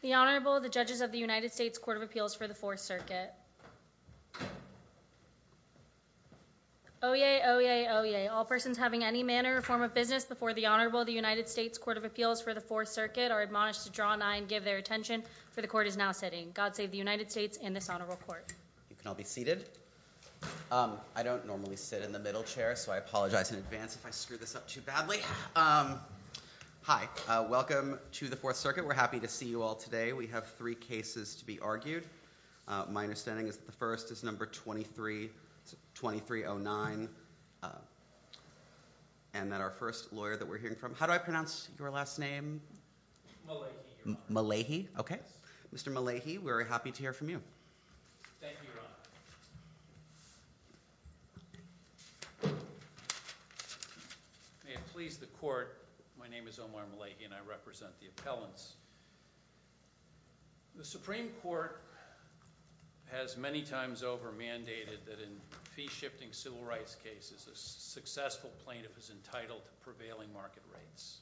The Honorable, the Judges of the United States Court of Appeals for the Fourth Circuit. Oyez, oyez, oyez, all persons having any manner or form of business before the Honorable of the United States Court of Appeals for the Fourth Circuit are admonished to draw nine and give their attention, for the court is now sitting. God save the United States and this Honorable Court. You can all be seated. I don't normally sit in the middle chair, so I apologize in advance if I screw this up too badly. Hi, welcome to the Fourth Circuit. We're happy to see you all today. We have three cases to be argued. My understanding is that the first is number 23, 2309, and that our first lawyer that we're hearing from, how do I pronounce your last name? Malahi. Malahi? Okay. Mr. Malahi, we're happy to hear from you. Thank you, Your Honor. May it please the court, my name is Omar Malahi and I represent the appellants. The Supreme Court has many times over mandated that in fee-shifting civil rights cases, a successful plaintiff is entitled to prevailing market rates.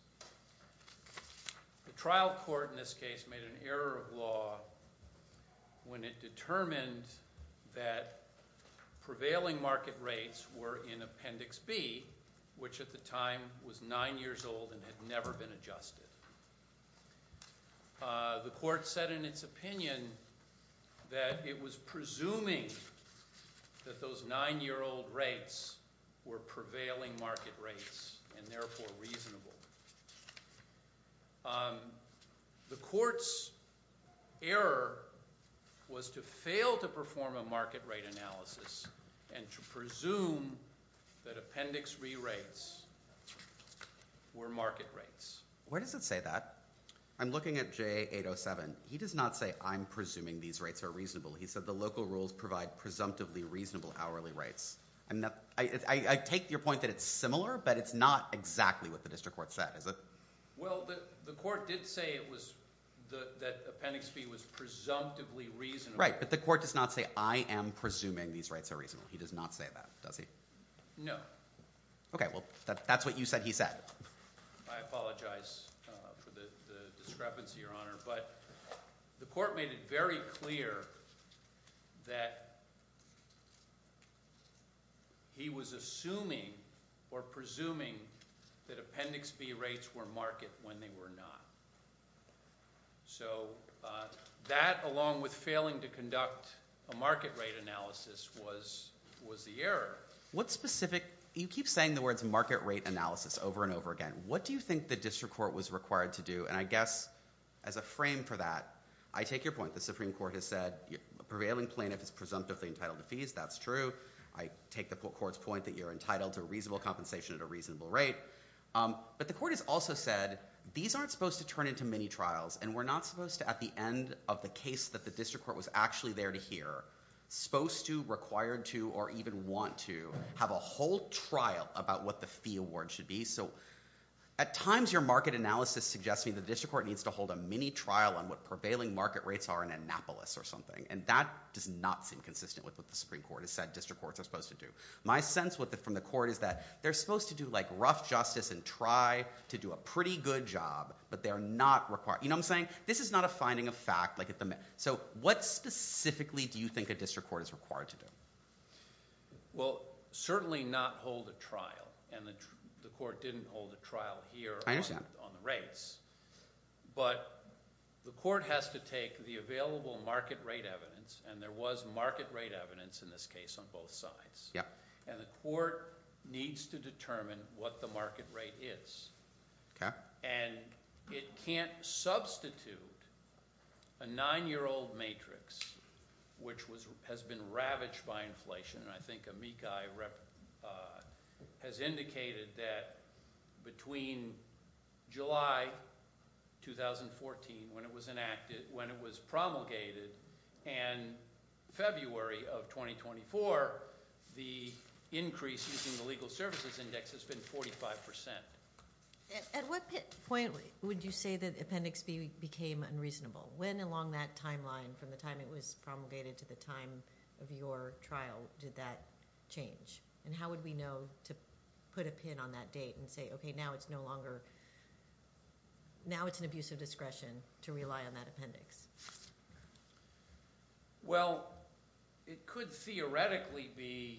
The trial court in this case made an error of law when it determined that prevailing market rates were in Appendix B, which at the time was nine years old and had never been adjusted. The court said in its opinion that it was presuming that those nine-year-old rates were prevailing market rates and therefore reasonable. The court's error was to fail to perform a market rate analysis and to presume that Appendix B rates were market rates. Where does it say that? I'm looking at JA807. He does not say I'm presuming these rates are reasonable. He said the local rules provide presumptively reasonable hourly rates. I take your point that it's similar, but it's not exactly what the district court said, is it? Well, the court did say that Appendix B was presumptively reasonable. Right, but the court does not say I am presuming these rates are reasonable. He does not say that, does he? No. Okay, well, that's what you said he said. I apologize for the discrepancy, Your Honor, but the court made it very clear that he was assuming or presuming that Appendix B rates were market when they were not. So that, along with failing to conduct a market rate analysis, was the error. What specific, you keep saying the words market rate analysis over and over again. What do you think the district court was required to do, and I guess, as a frame for that, I take your point. The Supreme Court has said a prevailing plaintiff is presumptively entitled to fees. That's true. I take the court's point that you're entitled to reasonable compensation at a reasonable rate. But the court has also said these aren't supposed to turn into mini-trials, and we're not supposed to, at the end of the case that the district court was actually there to hear, supposed to, required to, or even want to have a whole trial about what the fee award should be. So at times your market analysis suggests to me that the district court needs to hold a mini-trial on what prevailing market rates are in Annapolis or something. And that does not seem consistent with what the Supreme Court has said district courts are supposed to do. My sense from the court is that they're supposed to do like rough justice and try to do a pretty good job, but they're not required, you know what I'm saying? This is not a finding of fact. So what specifically do you think a district court is required to do? Well certainly not hold a trial, and the court didn't hold a trial here on the rates. But the court has to take the available market rate evidence, and there was market rate evidence in this case on both sides, and the court needs to determine what the market rate is. Okay. And it can't substitute a nine-year-old matrix, which has been ravaged by inflation, and I think Amikai has indicated that between July 2014, when it was enacted, when it was promulgated, and February of 2024, the increase in the Legal Services Index has been 45%. At what point would you say that Appendix B became unreasonable? When along that timeline from the time it was promulgated to the time of your trial did that change? And how would we know to put a pin on that date and say, okay, now it's no longer, now it's an abuse of discretion to rely on that appendix? Well it could theoretically be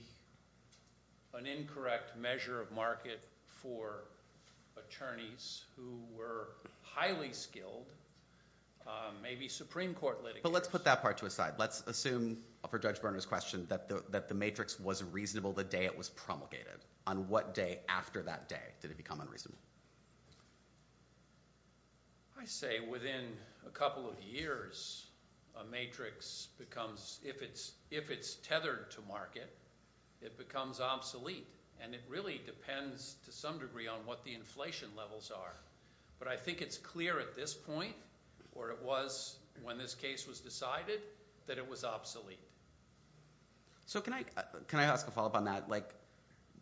an incorrect measure of market for attorneys who were highly skilled, maybe Supreme Court litigants. But let's put that part to a side. Let's assume for Judge Berner's question that the matrix was reasonable the day it was promulgated. On what day after that day did it become unreasonable? I say within a couple of years, a matrix becomes, if it's tethered to market, it becomes obsolete. And it really depends to some degree on what the inflation levels are. But I think it's clear at this point, or it was when this case was decided, that it was obsolete. So can I ask a follow-up on that?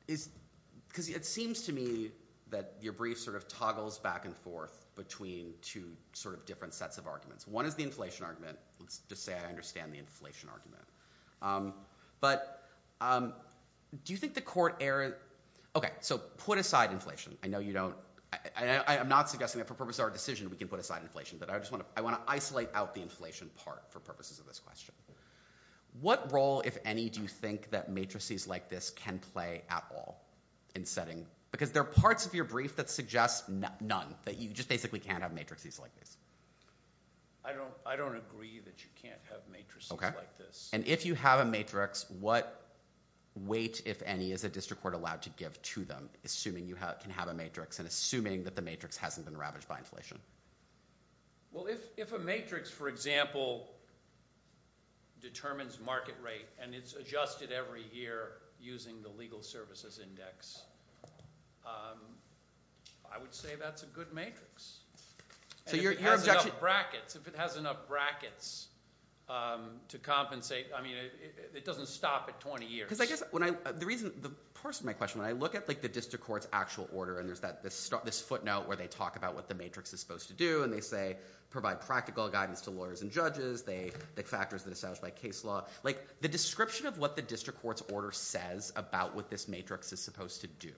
It seems to me that your brief sort of toggles back and forth between two sort of different sets of arguments. One is the inflation argument. Let's just say I understand the inflation argument. But do you think the court error, okay, so put aside inflation. I know you don't, I'm not suggesting that for purposes of our decision we can put aside inflation. But I want to isolate out the inflation part for purposes of this question. What role, if any, do you think that matrices like this can play at all in setting, because there are parts of your brief that suggest none, that you just basically can't have matrices like this. I don't agree that you can't have matrices like this. And if you have a matrix, what weight, if any, is the district court allowed to give to them, assuming you can have a matrix and assuming that the matrix hasn't been ravaged by inflation? Well, if a matrix, for example, determines market rate and it's adjusted every year using the legal services index, I would say that's a good matrix. So your objection? And if it has enough brackets, if it has enough brackets to compensate, I mean, it doesn't stop at 20 years. Because I guess when I, the reason, the person, my question, when I look at like the district court's actual order, and there's this footnote where they talk about what the matrix is supposed to do, and they say, provide practical guidance to lawyers and judges, the factors that are established by case law. Like, the description of what the district court's order says about what this matrix is supposed to do.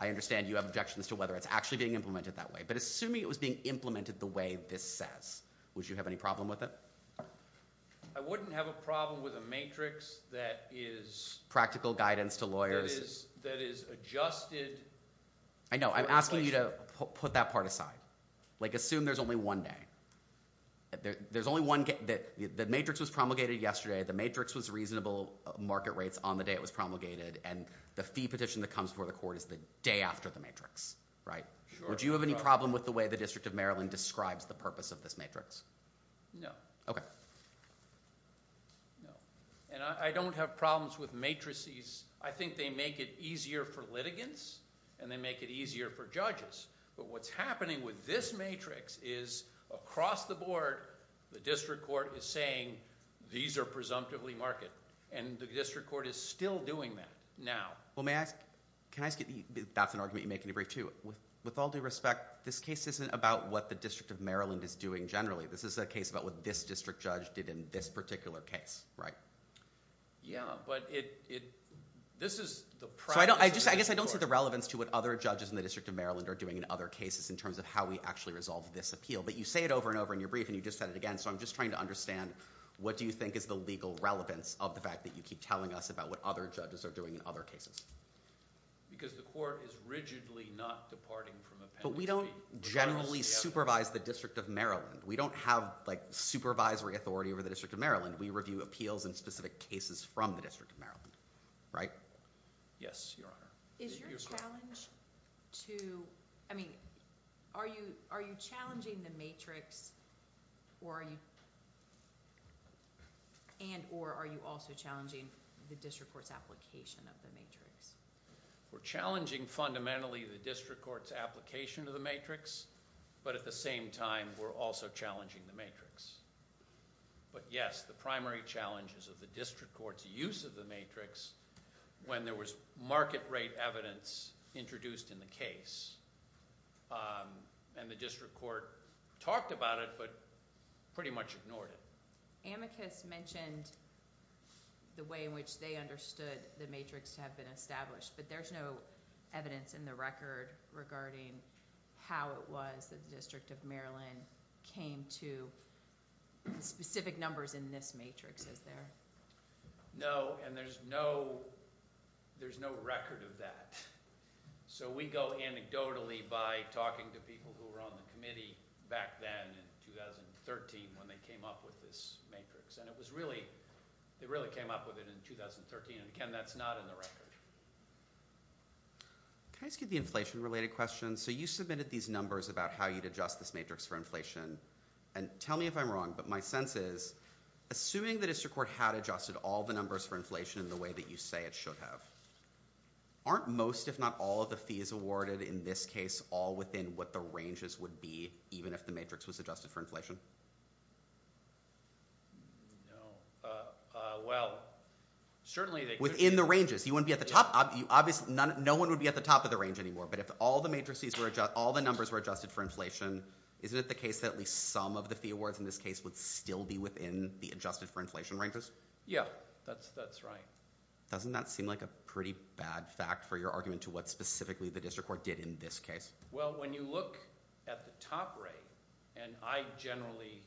I understand you have objections to whether it's actually being implemented that way. But assuming it was being implemented the way this says, would you have any problem with it? I wouldn't have a problem with a matrix that is- Practical guidance to lawyers. That is adjusted- I know. I'm asking you to put that part aside. Like, assume there's only one day. There's only one, the matrix was promulgated yesterday. The matrix was reasonable market rates on the day it was promulgated. And the fee petition that comes before the court is the day after the matrix, right? Sure. Would you have any problem with the way the District of Maryland describes the purpose of this matrix? No. Okay. No. And I don't have problems with matrices. I think they make it easier for litigants and they make it easier for judges. But what's happening with this matrix is across the board, the district court is saying, these are presumptively market. And the district court is still doing that now. Well, may I ask, can I ask you, that's an argument you make in your brief too. With all due respect, this case isn't about what the District of Maryland is doing generally. This is a case about what this district judge did in this particular case, right? Yeah. But it, this is the practice of the district court. So I guess I don't see the relevance to what other judges in the District of Maryland are doing in other cases in terms of how we actually resolve this appeal. But you say it over and over in your brief and you just said it again, so I'm just trying to understand, what do you think is the legal relevance of the fact that you keep telling us about what other judges are doing in other cases? Because the court is rigidly not departing from appendix B. But we don't generally supervise the District of Maryland. We don't have, like, supervisory authority over the District of Maryland. We review appeals and specific cases from the District of Maryland, right? Yes, Your Honor. Is your challenge to, I mean, are you, are you challenging the matrix or are you, and or are you also challenging the district court's application of the matrix? We're challenging fundamentally the district court's application of the matrix, but at the same time, we're also challenging the matrix. But yes, the primary challenge is of the district court's use of the matrix when there was market rate evidence introduced in the case. And the district court talked about it, but pretty much ignored it. Amicus mentioned the way in which they understood the matrix to have been established, but there's no evidence in the record regarding how it was that the District of Maryland came to specific numbers in this matrix, is there? No, and there's no, there's no record of that. So we go anecdotally by talking to people who were on the committee back then in 2013 when they came up with this matrix. And it was really, they really came up with it in 2013. And again, that's not in the record. Can I ask you the inflation-related question? So you submitted these numbers about how you'd adjust this matrix for inflation. And tell me if I'm wrong, but my sense is, assuming the district court had adjusted all the numbers for inflation in the way that you say it should have, aren't most, if not all of the fees awarded in this case, all within what the ranges would be, even if the matrix was adjusted for inflation? No. Well, certainly they could be. Within the ranges? You wouldn't be at the top? Obviously, no one would be at the top of the range anymore, but if all the matrices were adjusted, all the numbers were adjusted for inflation, isn't it the case that at least some of the fee awards in this case would still be within the adjusted for inflation ranges? Yeah. That's right. Doesn't that seem like a pretty bad fact for your argument to what specifically the district court did in this case? Well, when you look at the top rate, and I generally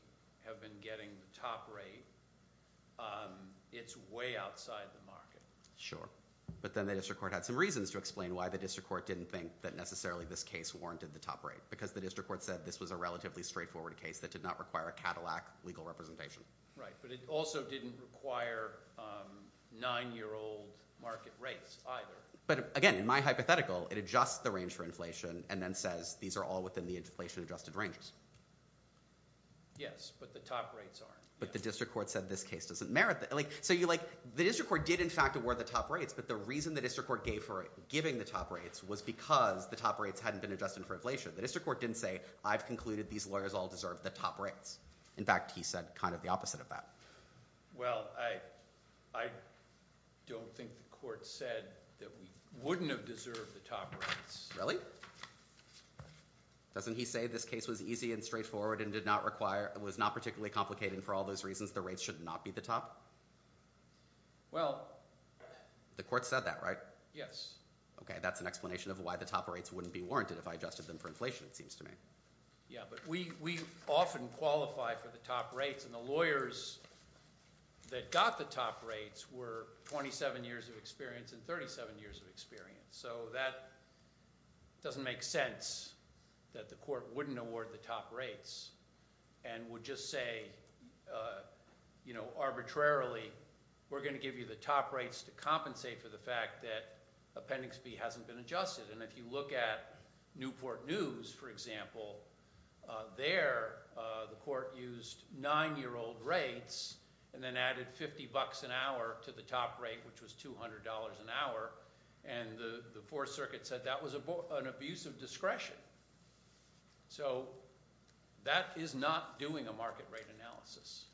have been getting the top rate, it's way outside the market. But then the district court had some reasons to explain why the district court didn't think that necessarily this case warranted the top rate, because the district court said this was a relatively straightforward case that did not require a Cadillac legal representation. Right. But it also didn't require nine-year-old market rates either. But again, in my hypothetical, it adjusts the range for inflation and then says these are all within the inflation adjusted ranges. Yes, but the top rates aren't. But the district court said this case doesn't merit that. So the district court did, in fact, award the top rates, but the reason the district court gave for giving the top rates was because the top rates hadn't been adjusted for inflation. The district court didn't say, I've concluded these lawyers all deserve the top rates. In fact, he said kind of the opposite of that. Well, I don't think the court said that we wouldn't have deserved the top rates. Really? Doesn't he say this case was easy and straightforward and did not require, was not particularly complicating for all those reasons the rates should not be the top? Well. The court said that, right? Yes. Okay, that's an explanation of why the top rates wouldn't be warranted if I adjusted them for inflation, it seems to me. Yeah, but we often qualify for the top rates and the lawyers that got the top rates were 27 years of experience and 37 years of experience. So that doesn't make sense that the court wouldn't award the top rates and would just say, you know, arbitrarily, we're going to give you the top rates to compensate for the fact that appendix B hasn't been adjusted. And if you look at Newport News, for example, there the court used nine-year-old rates and then added 50 bucks an hour to the top rate, which was $200 an hour. And the Fourth Circuit said that was an abuse of discretion. So, that is not doing a market rate analysis.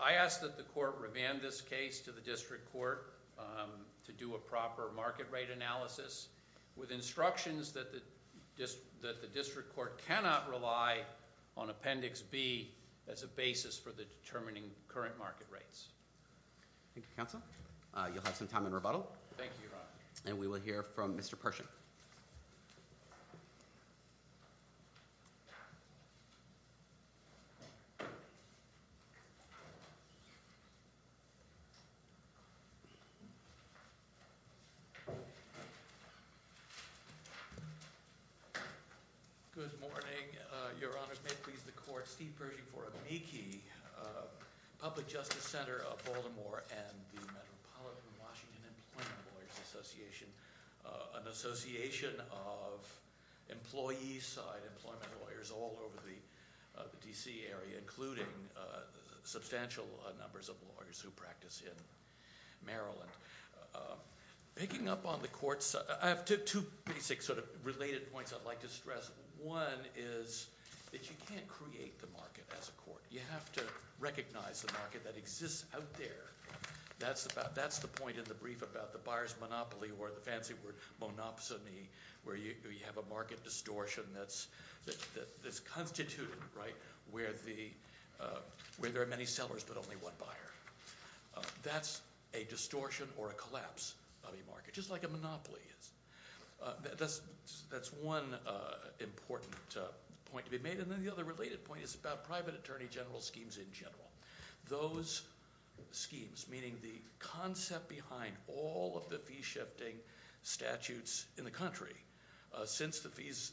I ask that the court revand this case to the district court to do a proper market rate analysis with instructions that the district court cannot rely on appendix B as a basis for determining current market rates. Thank you, counsel. You'll have some time in rebuttal. Thank you, Your Honor. And we will hear from Mr. Pershing. Thank you. Good morning. Your Honor, may it please the court, Steve Pershing for AMICI, Public Justice Center of Baltimore and the Metropolitan Washington Employment Lawyers Association. An association of employee-side employment lawyers all over the D.C. area, including substantial numbers of lawyers who practice in Maryland. Picking up on the courts, I have two basic sort of related points I'd like to stress. One is that you can't create the market as a court. You have to recognize the market that exists out there. That's the point in the brief about the buyer's monopoly or the fancy word monopsony, where you have a market distortion that's constituted, right, where there are many sellers but only one buyer. That's a distortion or a collapse of a market, just like a monopoly is. That's one important point to be made. And then the other related point is about private attorney general schemes in general. Those schemes, meaning the concept behind all of the fee-shifting statutes in the country since the Fees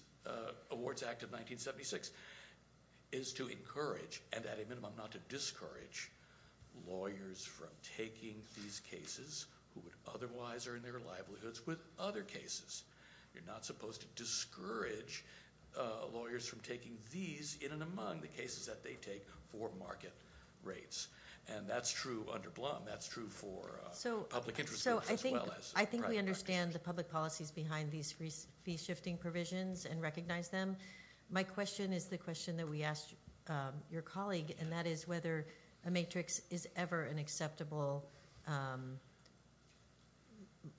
Awards Act of 1976, is to encourage and at a minimum not to discourage lawyers from taking these cases who would otherwise earn their livelihoods with other cases. You're not supposed to discourage lawyers from taking these in and among the cases that they take for market rates. And that's true under Blum. That's true for public interest groups as well as private parties. So I think we understand the public policies behind these fee-shifting provisions and recognize them. My question is the question that we asked your colleague, and that is whether a matrix is ever an acceptable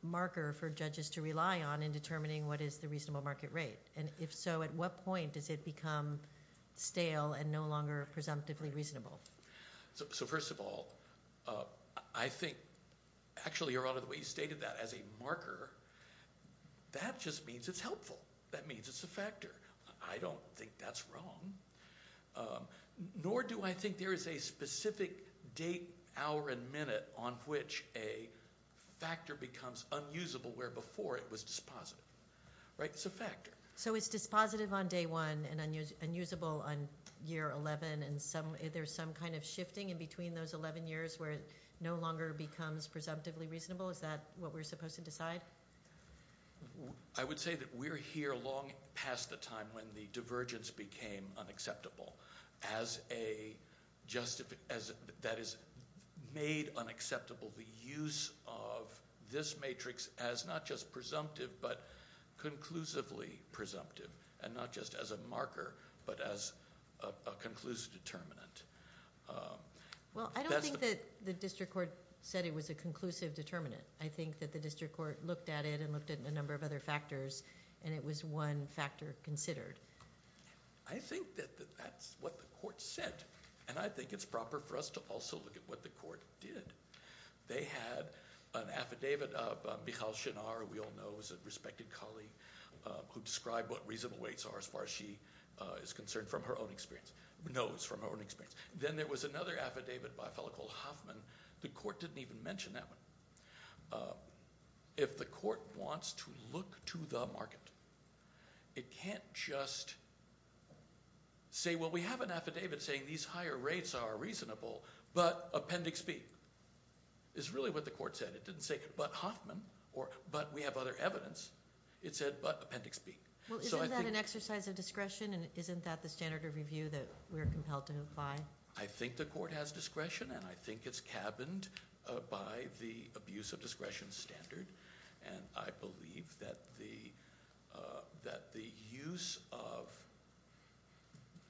marker for judges to rely on in determining what is the reasonable market rate. And if so, at what point does it become stale and no longer presumptively reasonable? So first of all, I think actually, Your Honor, the way you stated that as a marker, that just means it's helpful. That means it's a factor. I don't think that's wrong, nor do I think there is a specific date, hour, and minute on which a factor becomes unusable where before it was dispositive. Right? It's a factor. So it's dispositive on day one and unusable on year 11, and there's some kind of shifting in between those 11 years where it no longer becomes presumptively reasonable? Is that what we're supposed to decide? I would say that we're here long past the time when the divergence became unacceptable that is made unacceptable the use of this matrix as not just presumptive, but conclusively presumptive, and not just as a marker, but as a conclusive determinant. Well, I don't think that the district court said it was a conclusive determinant. I think that the district court looked at it and looked at a number of other factors, and it was one factor considered. I think that that's what the court said, and I think it's proper for us to also look at what the court did. They had an affidavit of Michal Shinar, who we all know is a respected colleague, who described what reasonable weights are as far as she is concerned from her own experience, knows from her own experience. Then there was another affidavit by a fellow called Hoffman. The court didn't even mention that one. If the court wants to look to the market, it can't just say, well, we have an affidavit saying these higher rates are reasonable, but Appendix B. It's really what the court said. It didn't say, but Hoffman, or but we have other evidence. It said, but Appendix B. Isn't that an exercise of discretion, and isn't that the standard of review that we're compelled to apply? I think the court has discretion, and I think it's cabined by the abuse of discretion standard, and I believe that the use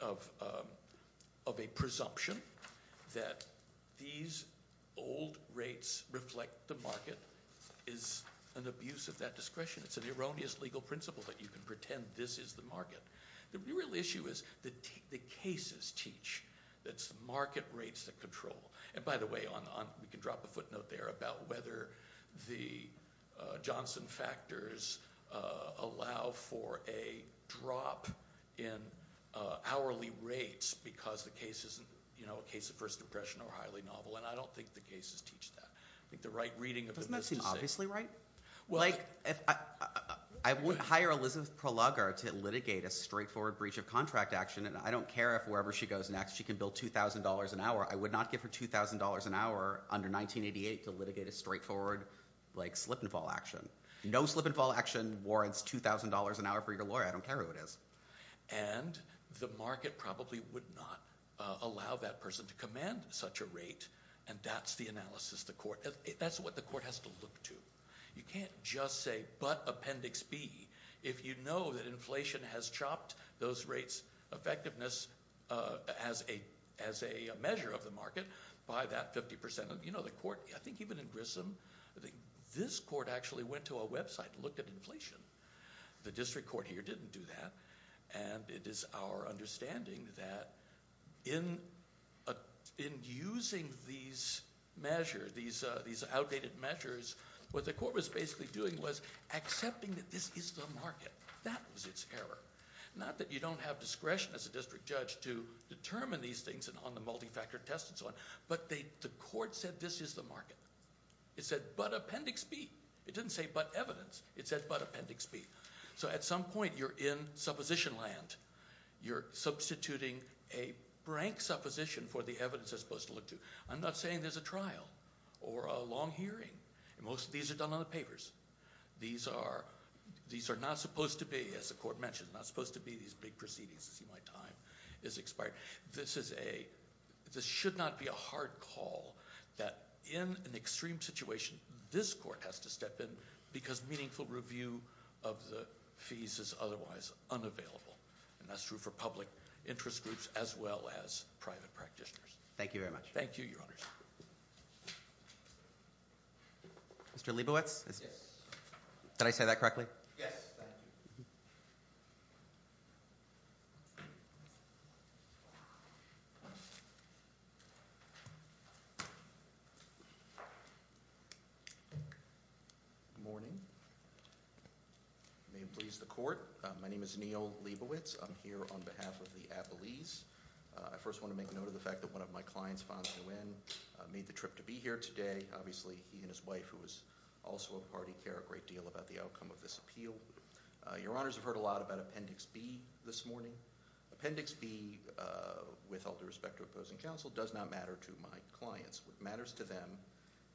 of a presumption that these old rates reflect the market is an abuse of that discretion. It's an erroneous legal principle that you can pretend this is the market. The real issue is the cases teach. It's the market rates that control. By the way, we can drop a footnote there about whether the Johnson factors allow for a drop in hourly rates because the case isn't a case of first impression or highly novel, and I don't think the cases teach that. I think the right reading of the misdeeds. Doesn't that seem obviously right? I wouldn't hire Elizabeth Prologar to litigate a straightforward breach of contract action, and I don't care if wherever she goes next she can bill $2,000 an hour. I would not give her $2,000 an hour under 1988 to litigate a straightforward slip-and-fall action. No slip-and-fall action warrants $2,000 an hour for your lawyer. I don't care who it is. The market probably would not allow that person to command such a rate, and that's the analysis the court... That's what the court has to look to. You can't just say, but Appendix B, if you know that inflation has chopped those rates' effectiveness as a measure of the market by that 50%. You know, the court, I think even in Grissom, this court actually went to a website and looked at inflation. The district court here didn't do that, and it is our understanding that in using these measures, these outdated measures, what the court was basically doing was accepting that this is the market. That was its error. Not that you don't have discretion as a district judge to determine these things on the multi-factor test and so on, but the court said this is the market. It said, but Appendix B. It didn't say, but evidence. It said, but Appendix B. So at some point you're in supposition land. You're substituting a blank supposition for the evidence they're supposed to look to. I'm not saying there's a trial or a long hearing. Most of these are done on the papers. These are not supposed to be, as the court mentioned, not supposed to be these big proceedings. See, my time has expired. This should not be a hard call that in an extreme situation this court has to step in because meaningful review of the fees is otherwise unavailable. And that's true for public interest groups as well as private practitioners. Thank you very much. Thank you, Your Honors. Mr. Leibowitz? Yes. Did I say that correctly? Yes, thank you. Good morning. May it please the court. My name is Neil Leibowitz. I'm here on behalf of the Appellees. I first want to make note of the fact that one of my clients, Fonz Nguyen, made the trip to be here today. Obviously, he and his wife, who is also a party, care a great deal about the outcome of this appeal. Your Honors have heard a lot about Appendix B this morning. Appendix B, with all due respect to opposing counsel, does not matter to my clients. What matters to them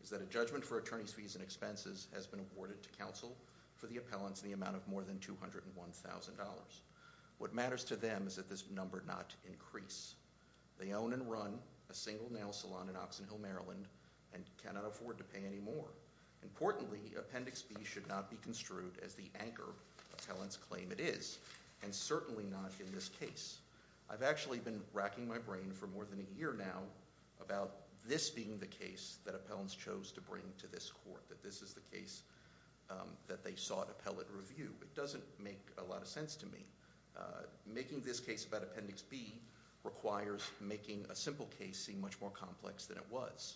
is that a judgment for attorneys' fees and expenses has been awarded to counsel for the appellants in the amount of more than $201,000. What matters to them is that this number not increase. They own and run a single nail salon in Oxon Hill, Maryland, and cannot afford to pay any more. Importantly, Appendix B should not be construed as the anchor appellants claim it is, and certainly not in this case. I've actually been racking my brain for more than a year now about this being the case that appellants chose to bring to this court, that this is the case that they sought appellate review. It doesn't make a lot of sense to me. Making this case about Appendix B requires making a simple case seem much more complex than it was.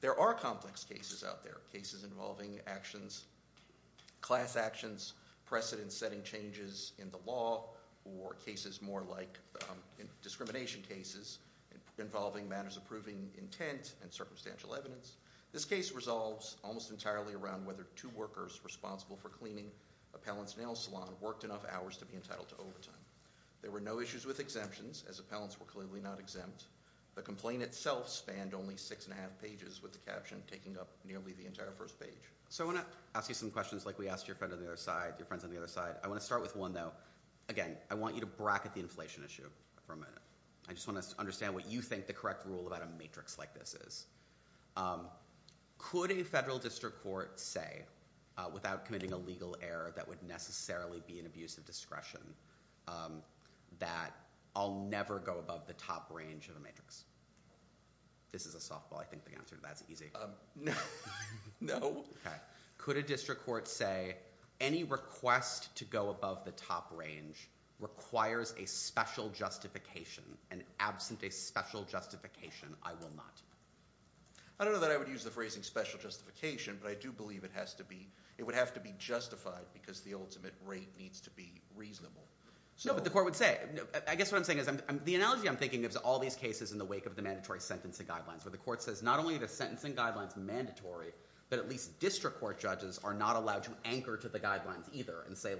There are complex cases out there, cases involving actions, class actions, precedent-setting changes in the law, or cases more like discrimination cases involving matters approving intent and circumstantial evidence. This case resolves almost entirely around whether two workers responsible for cleaning appellants' nail salon worked enough hours to be entitled to overtime. There were no issues with exemptions as appellants were clearly not exempt. The complaint itself spanned only six and a half pages with the caption taking up nearly the entire first page. So I want to ask you some questions like we asked your friends on the other side. I want to start with one, though. Again, I want you to bracket the inflation issue for a minute. I just want to understand what you think the correct rule about a matrix like this is. Could a federal district court say without committing a legal error that would necessarily be an abuse of discretion that I'll never go above the top range of the matrix? This is a softball. I think the answer to that is easy. No. Could a district court say any request to go above the top range requires a special justification and absent a special justification I will not do? I don't know that I would use the phrasing special justification but I do believe it has to be justified because the ultimate rate needs to be reasonable. No, but the court would say. The analogy I'm thinking of is all these cases in the wake of the mandatory sentencing guidelines where the court says not only are the sentencing guidelines mandatory, but at least district court judges are not allowed to anchor to the guidelines either and say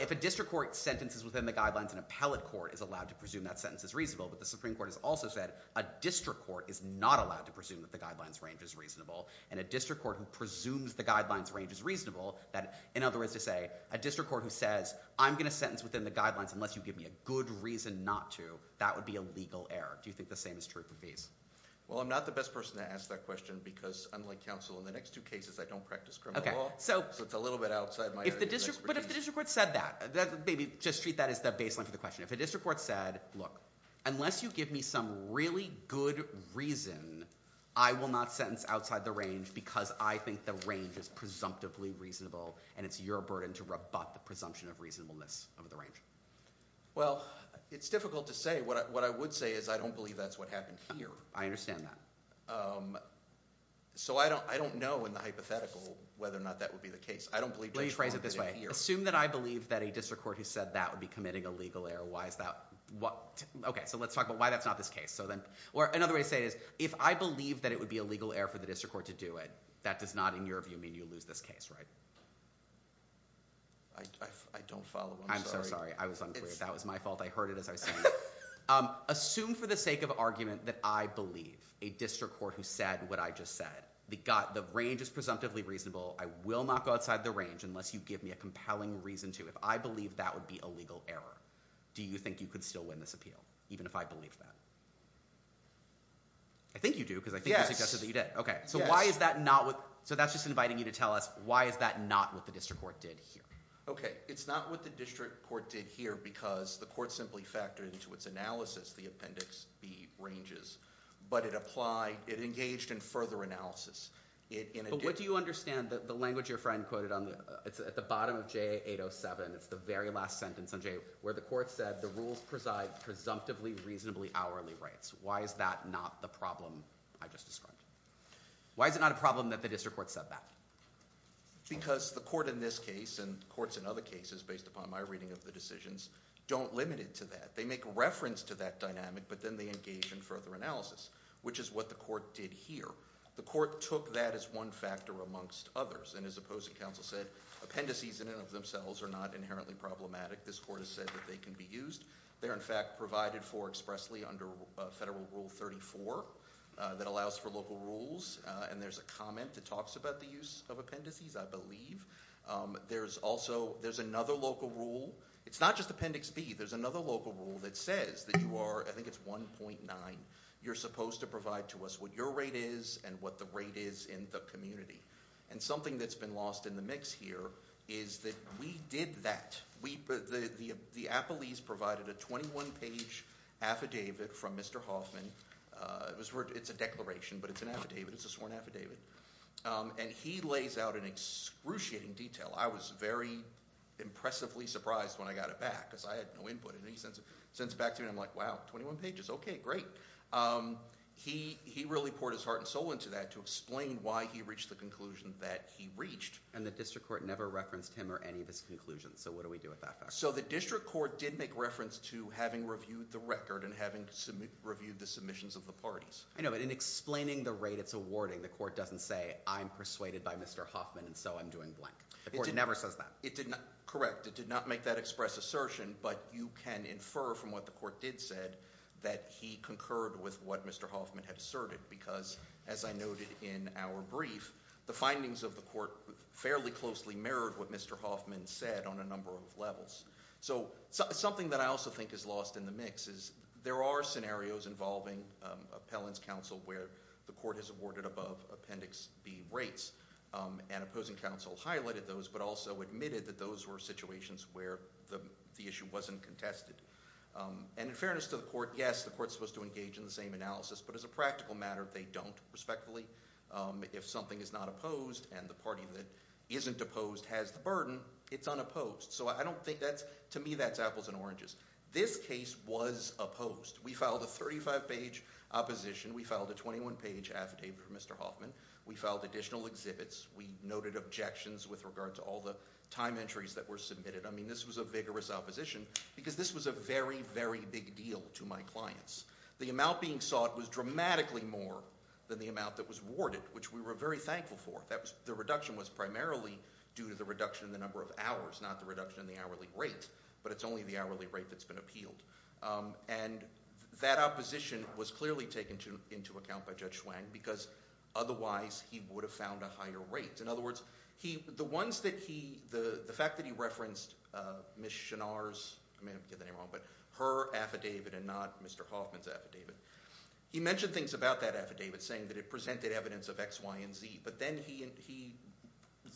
if a district court sentences within the guidelines and a appellate court is allowed to presume that sentence is reasonable but the Supreme Court has also said a district court is not allowed to presume that the guidelines range is reasonable and a district court who presumes the guidelines range is reasonable that in other words to say a district court who says I'm going to sentence within the guidelines unless you give me a good reason not to that would be a legal error. Do you think the same is true for these? Well I'm not the best person to ask that question because unlike counsel in the next two cases I don't practice criminal law so it's a little bit outside my area But if the district court said that maybe just treat that as the baseline for the question if a district court said look unless you give me some really good reason I will not sentence outside the range because I think the range is presumptively reasonable and it's your burden to rebut the presumption of reasonableness of the range Well it's difficult to say. What I would say is I don't believe that's what happened here. I understand that. So I don't know in the hypothetical whether or not that would be the case. Let me phrase it this way. Assume that I believe that a district court who said that would be committing a legal error. Why is that? Okay so let's talk about why that's not this case. Or another way to say it is if I believe that it would be a legal error for the district court to do it that does not in your view mean you lose this case right? I don't follow. I'm sorry. I'm so sorry. I was unclear. That was my fault. I heard it as I said. Assume for the sake of argument that I believe a district court who said what I just said the range is presumptively reasonable I will not go outside the range unless you give me a compelling reason to. If I believe that would be a legal error do you think you could still win this appeal? Even if I believe that. I think you do because I think you suggested that you did. So why is that not so that's just inviting you to tell us why is that not what the district court did here? Okay it's not what the district court did here because the court simply factored into its analysis the appendix B ranges but it applied it engaged in further analysis But what do you understand the language your friend quoted at the bottom of JA807 the very last sentence where the court said the rules preside presumptively reasonably hourly rights. Why is that not the problem I just described? Why is it not a problem that the district court said that? Because the court in this case and courts in other cases based upon my reading of the decisions don't limit it to that. They make reference to that dynamic but then they engage in further analysis which is what the court did here. The court took that as one factor amongst others and as opposing counsel said appendices in and of themselves are not inherently problematic. This court has said that they can be used. They're in fact provided for expressly under federal rule 34 that allows for local rules and there's a comment that talks about the use of appendices I believe. There's also there's another local rule it's not just appendix B. There's another local rule that says that you are I think it's 1.9. You're supposed to provide to us what your rate is and what the rate is in the community and something that's been lost in the mix here is that we did that. The appellees provided a 21 page affidavit from Mr. Hoffman it's a declaration but it's an affidavit. It's a sworn affidavit and he lays out an excruciating detail. I was very impressively surprised when I got it back because I had no input in any sense back to me and I'm like wow 21 pages okay great. He really poured his heart and soul into that to explain why he reached the conclusion that he reached. And the district court never referenced him or any of his conclusions so what do we do with that? So the district court did make reference to having reviewed the record and having reviewed the submissions of the parties. I know but in explaining the rate it's awarding the court doesn't say I'm persuaded by Mr. Hoffman and so I'm going blank. The court never says that. Correct. It did not make that express assertion but you can infer from what the court did said that he concurred with what Mr. Hoffman had asserted because as I noted in our brief the findings of the court fairly closely mirrored what Mr. Hoffman said on a number of levels. So something that I also think is lost in the mix is there are scenarios involving appellant's counsel where the court has awarded above appendix B rates and opposing counsel highlighted those but also admitted that those were situations where the issue wasn't contested. And in fairness to the court yes the court's supposed to engage in the same analysis but as a practical matter they don't respectfully. If something is not opposed and the party that isn't opposed has the burden it's unopposed. So I don't think that's to me that's apples and oranges. This case was opposed. We filed a 35 page opposition. We filed a 21 page affidavit for Mr. Hoffman. We filed additional exhibits. We noted objections with regard to all the time entries that were submitted. I mean this was a vigorous opposition because this was a very very big deal to my clients. The amount being sought was dramatically more than the amount that was awarded which we were very thankful for. The reduction was primarily due to the reduction in the number of hours not the reduction in the hourly rate but it's only the hourly rate that's been appealed. That opposition was clearly taken into account by Judge Hwang because otherwise he would have found a higher rate. In other words, the ones that he, the fact that he referenced Ms. Chenard's I may not be getting the name wrong but her affidavit and not Mr. Hoffman's affidavit he mentioned things about that affidavit saying that it presented evidence of X, Y, and Z but then he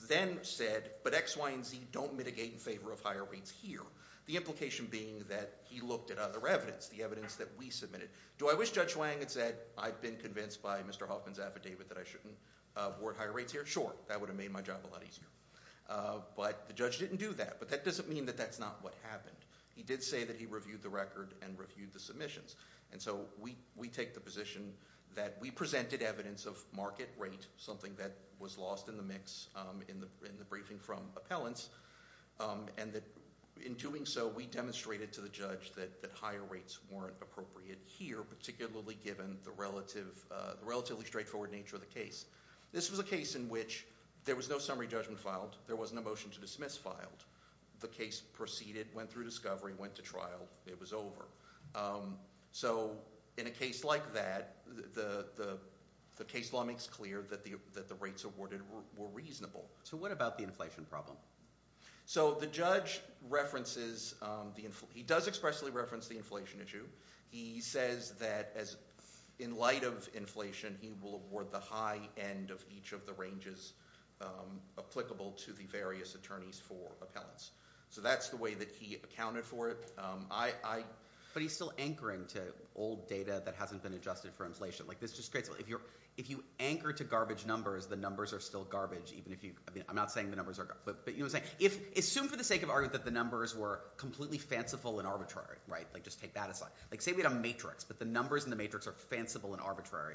then said but X, Y, and Z don't mitigate in favor of higher rates here. The implication being that he looked at other evidence, the evidence that we submitted. Do I wish Judge Hwang had said I've been convinced by Mr. Hoffman's affidavit that I shouldn't award higher rates here? Sure, that would have made my job a lot easier. But the judge didn't do that but that doesn't mean that that's not what happened. He did say that he reviewed the record and reviewed the submissions and so we take the position that we presented evidence of market rate something that was lost in the mix in the briefing from appellants and that in doing so we demonstrated to the appellant that the rate was not appropriate here particularly given the relatively straightforward nature of the case. This was a case in which there was no summary judgment filed, there wasn't a motion to dismiss filed. The case proceeded, went through discovery, went to trial, it was over. In a case like that the case law makes clear that the rates awarded were reasonable. So what about the inflation problem? So the judge references, he does expressly reference the inflation issue. He says that in light of inflation he will award the high end of each of the ranges applicable to the various attorneys for appellants. So that's the way that he accounted for it. But he's still anchoring to old data that hasn't been adjusted for inflation. If you anchor to garbage numbers, the numbers are still garbage even if you, I'm not saying the numbers are garbage. Assume for the sake of argument that the numbers were completely fanciful and arbitrary, just take that aside. Say we had a matrix but the numbers in the matrix are fanciful and arbitrary.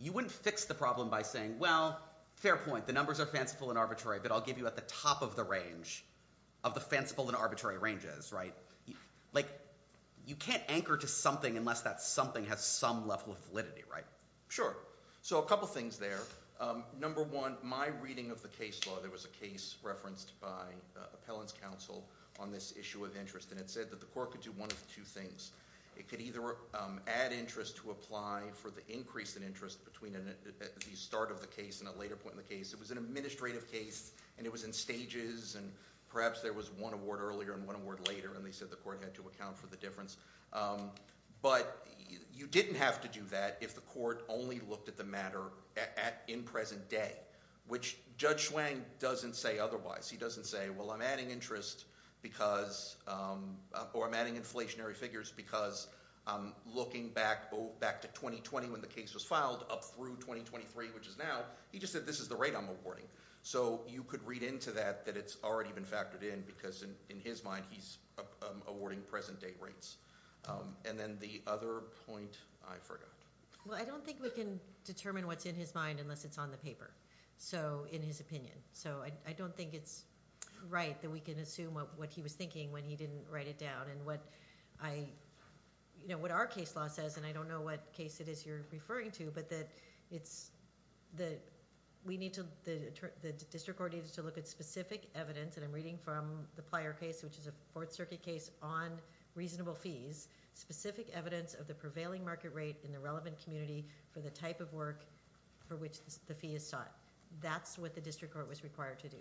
You wouldn't fix the problem by saying well, fair point, the numbers are fanciful and arbitrary but I'll give you at the top of the range of the fanciful and arbitrary ranges. You can't anchor to something unless that something has some level of validity. Sure. So a couple things there. Number one, my reading of the case law, there was a case referenced by appellants counsel on this issue of interest and it said that the court could do one of two things. It could either add interest to apply for the increase in interest between the start of the case and a later point in the case. It was an administrative case and it was in stages and perhaps there was one award earlier and one award later and they said the court had to account for the difference. But you didn't have to do that if the court only looked at the matter in present day. Which Judge Hwang doesn't say otherwise. He doesn't say well I'm adding interest because or I'm adding inflationary figures because looking back to 2020 when the case was filed up through 2023 which is now he just said this is the rate I'm awarding. So you could read into that that it's already been factored in because in his mind he's awarding present date rates. And then the other point I forgot. Well I don't think we can determine what's in his mind unless it's on the paper. So in his opinion. So I don't think it's right that we can assume what he was thinking when he didn't write it down and what I you know what our case law says and I don't know what case it is you're referring to but that it's that we need to the district coordinators to look at specific evidence and I'm reading from the Plyer case which is a Fourth Circuit case on reasonable fees specific evidence of the prevailing market rate in the relevant community for the type of work for which the fee is sought. That's what the district court was required to do.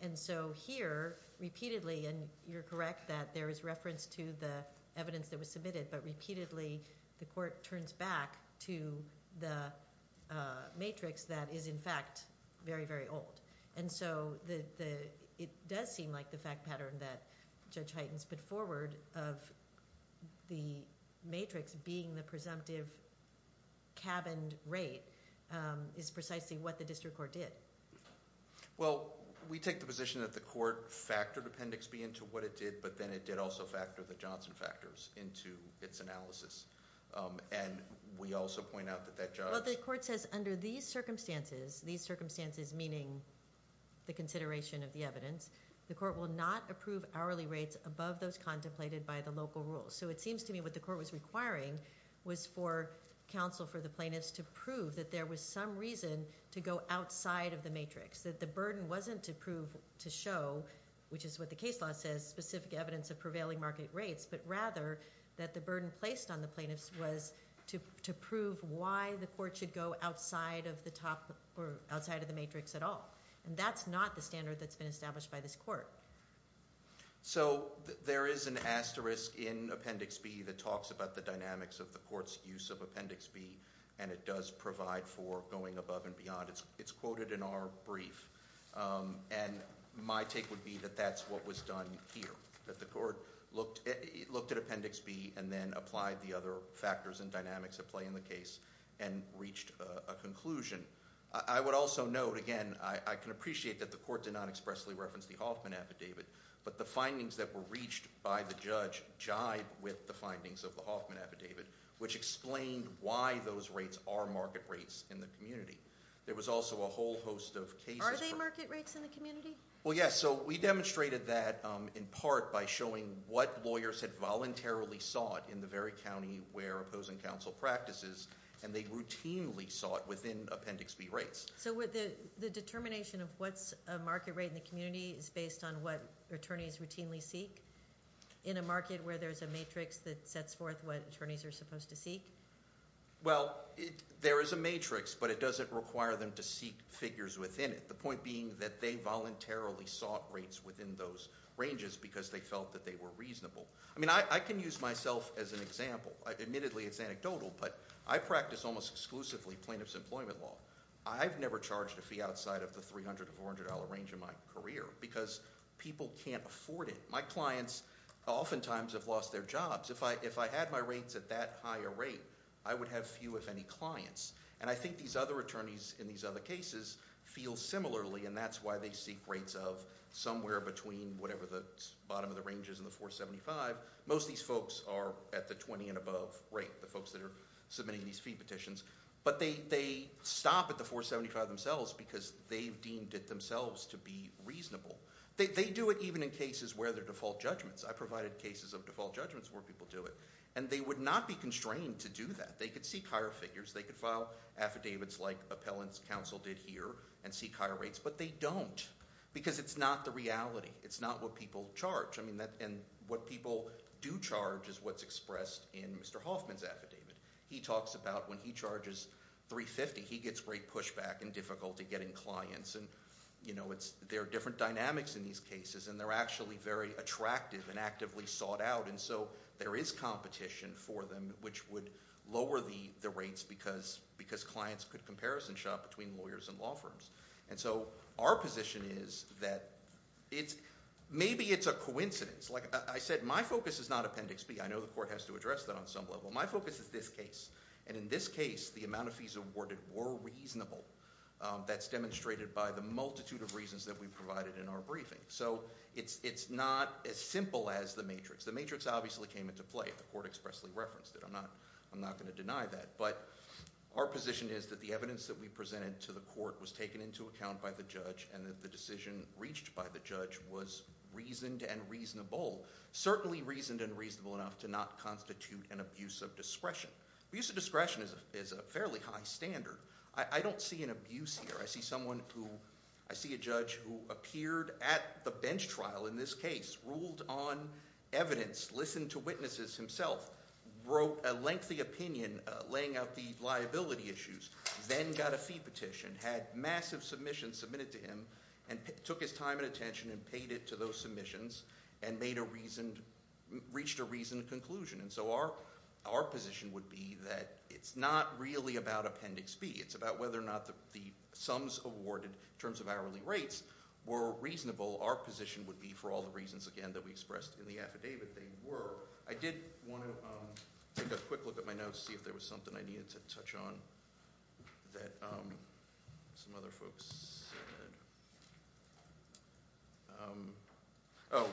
And so here repeatedly and you're correct that there is reference to the evidence that was submitted but repeatedly the court turns back to the matrix that is in fact very very old. And so it does seem like the fact pattern that Judge Hytens put forward of the matrix being the presumptive cabined rate is precisely what the district court did. Well we take the position that the court factored appendix B into what it did but then it did also factor the Johnson factors into its analysis and we also point out that that judge Well the court says under these circumstances these circumstances meaning the consideration of the evidence the court will not approve hourly rates above those contemplated by the local rules. So it seems to me what the court was requiring was for counsel for the plaintiffs to prove that there was some reason to go outside of the matrix. That the burden wasn't to prove to show which is what the case law says specific evidence of prevailing market rates but rather that the burden placed on the plaintiffs was to prove why the court should go outside of the top or outside of the matrix at all. And that's not the standard that's been established by this court. So there is an asterisk in appendix B that talks about the dynamics of the court's use of appendix B and it does provide for going above and beyond. It's quoted in our brief and my take would be that that's what was done here. That the court looked at appendix B and then applied the other factors and dynamics at play in the case and reached a conclusion. I would also note again I can appreciate that the court did not expressly reference the Hoffman affidavit but the findings that were reached by the judge jive with the findings of the Hoffman affidavit which explained why those rates are market rates in the community. There was also a whole host of cases. Are they market rates in the community? Well yes so we demonstrated that in part by showing what lawyers had voluntarily sought in the very county where opposing counsel practices and they sought appendix B rates. So the determination of what's a market rate in the community is based on what attorneys routinely seek in a market where there's a matrix that sets forth what attorneys are supposed to seek? Well there is a matrix but it doesn't require them to seek figures within it. The point being that they voluntarily sought rates within those ranges because they felt that they were reasonable. I mean I can use myself as an example. Admittedly it's anecdotal but I almost exclusively plaintiff's employment law. I've never charged a fee outside of the $300 to $400 range in my career because people can't afford it. My clients often times have lost their jobs. If I had my rates at that higher rate I would have few if any clients and I think these other attorneys in these other cases feel similarly and that's why they seek rates of somewhere between whatever the bottom of the range is in the 475. Most of these folks are at the 20 and above rate. The folks that are submitting these fee petitions but they stop at the 475 themselves because they've deemed it themselves to be reasonable. They do it even in cases where they're default judgments. I provided cases of default judgments where people do it and they would not be constrained to do that. They could seek higher figures. They could file affidavits like appellants counsel did here and seek higher rates but they don't because it's not the reality. It's not what people charge. What people do charge is what's expressed in Mr. Hoffman's affidavit. He talks about when he charges 350 he gets great pushback and difficulty getting clients. There are different dynamics in these cases and they're actually very attractive and actively sought out and so there is competition for them which would lower the rates because clients could comparison shop between lawyers and law firms. Our position is that maybe it's a coincidence. I said my focus is not appendix B. I know the court has to address that on some level. My focus is this case and in this case the amount of fees awarded were reasonable. That's demonstrated by the multitude of reasons that we provided in our briefing. It's not as simple as the matrix. The matrix obviously came into play. The court expressly referenced it. I'm not going to deny that but our position is that the evidence that we presented to the court was taken into account by the judge and that the decision reached by the judge was reasoned and reasonable. Certainly reasoned and reasonable enough to not constitute an abuse of discretion. Abuse of discretion is a fairly high standard. I don't see an abuse here. I see someone who I see a judge who appeared at the bench trial in this case ruled on evidence listened to witnesses himself wrote a lengthy opinion laying out the liability issues then got a fee petition had massive submissions submitted to him and took his time and attention and paid it to those submissions and reached a reasoned conclusion. Our position would be that it's not really about Appendix B. It's about whether or not the sums awarded in terms of hourly rates were reasonable. Our position would be for all the reasons again that we expressed in the affidavit they were. I did want to take a quick look at my notes to see if there was something I needed to touch on that some other folks said. Oh,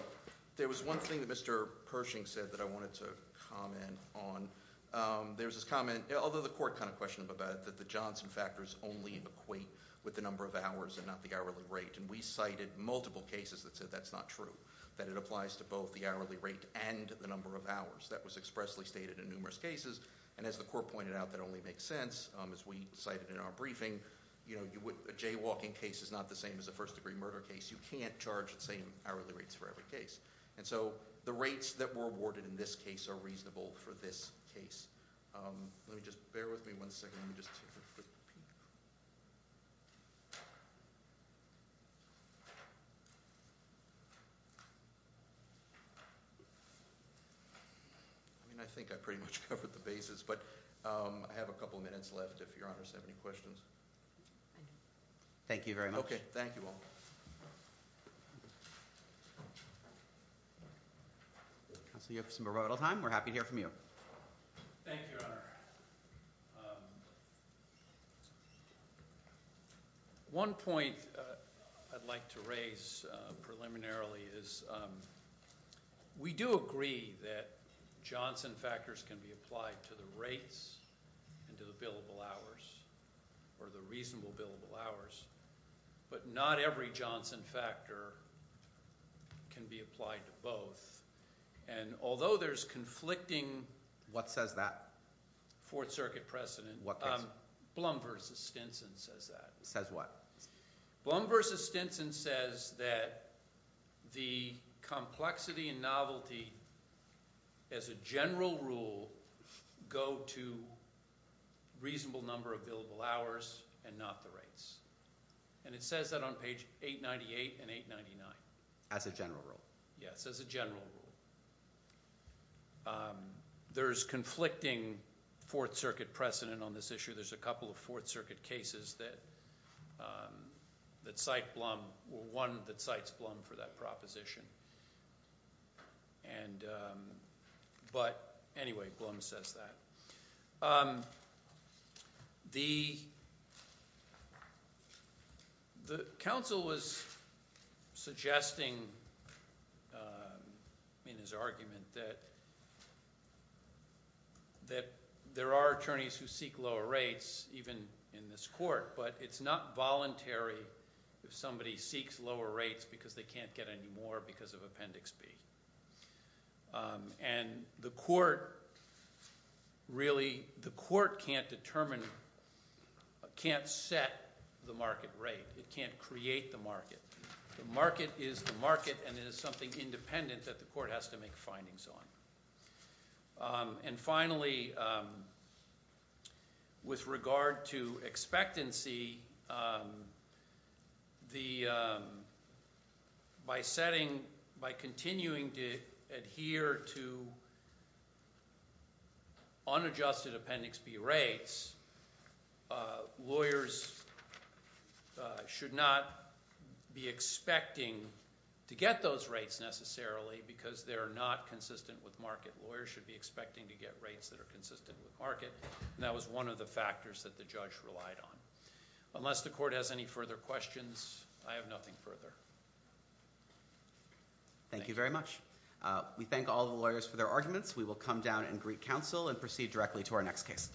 there was one thing that Mr. Pershing said that I wanted to comment on. There was this comment, although the court kind of questioned about it, that the Johnson factors only equate with the number of hours and not the hourly rate and we cited multiple cases that said that's not true. That it applies to both the hourly rate and the number of hours. That was expressly stated in numerous cases and as the court pointed out that only makes sense as we cited in our briefing. A jaywalking case is not the same as a first degree murder case. You can't charge the same hourly rates for every case. The rates that were awarded in this case are reasonable for this case. Let me just, bear with me one second. I think I pretty much covered the basis, but I have a couple minutes left if your honors have any questions. Thank you very much. Thank you all. We're happy to hear from you. Thank you, your honor. One point I'd like to raise preliminarily is we do agree that Johnson factors can be applied to the rates and to the billable hours or the reasonable billable hours, but not every Johnson factor can be applied to both and although there's conflicting... What says that? Fourth circuit precedent. What case? Blum versus Stinson says that. Says what? Blum versus Stinson says that the complexity and novelty as a general rule go to reasonable number of billable hours and not the rates. And it says that on page 898 and 899. As a general rule. Yes, as a general rule. There's conflicting fourth circuit precedent on this issue. There's a couple of fourth circuit cases that cite Blum or one that cites Blum for that proposition and but anyway Blum says that. The council was suggesting in his argument that that there are attorneys who seek lower rates even in this court, but it's not voluntary if somebody seeks lower rates because they can't get any more because of appendix B. And the court really can't determine can't set the market rate. It can't create the market. The market is the market and it is something independent that the court has to make findings on. And finally with regard to expectancy the by setting by continuing to adhere to unadjusted appendix B rates lawyers should not be expecting to get those rates necessarily because they are not consistent with market. Lawyers should be expecting to get rates that are consistent with market and that was one of the factors that the judge relied on. Unless the court has any further questions, I have nothing further. Thank you very much. We thank all the lawyers for their arguments. We will come down and greet counsel and proceed directly to our next case.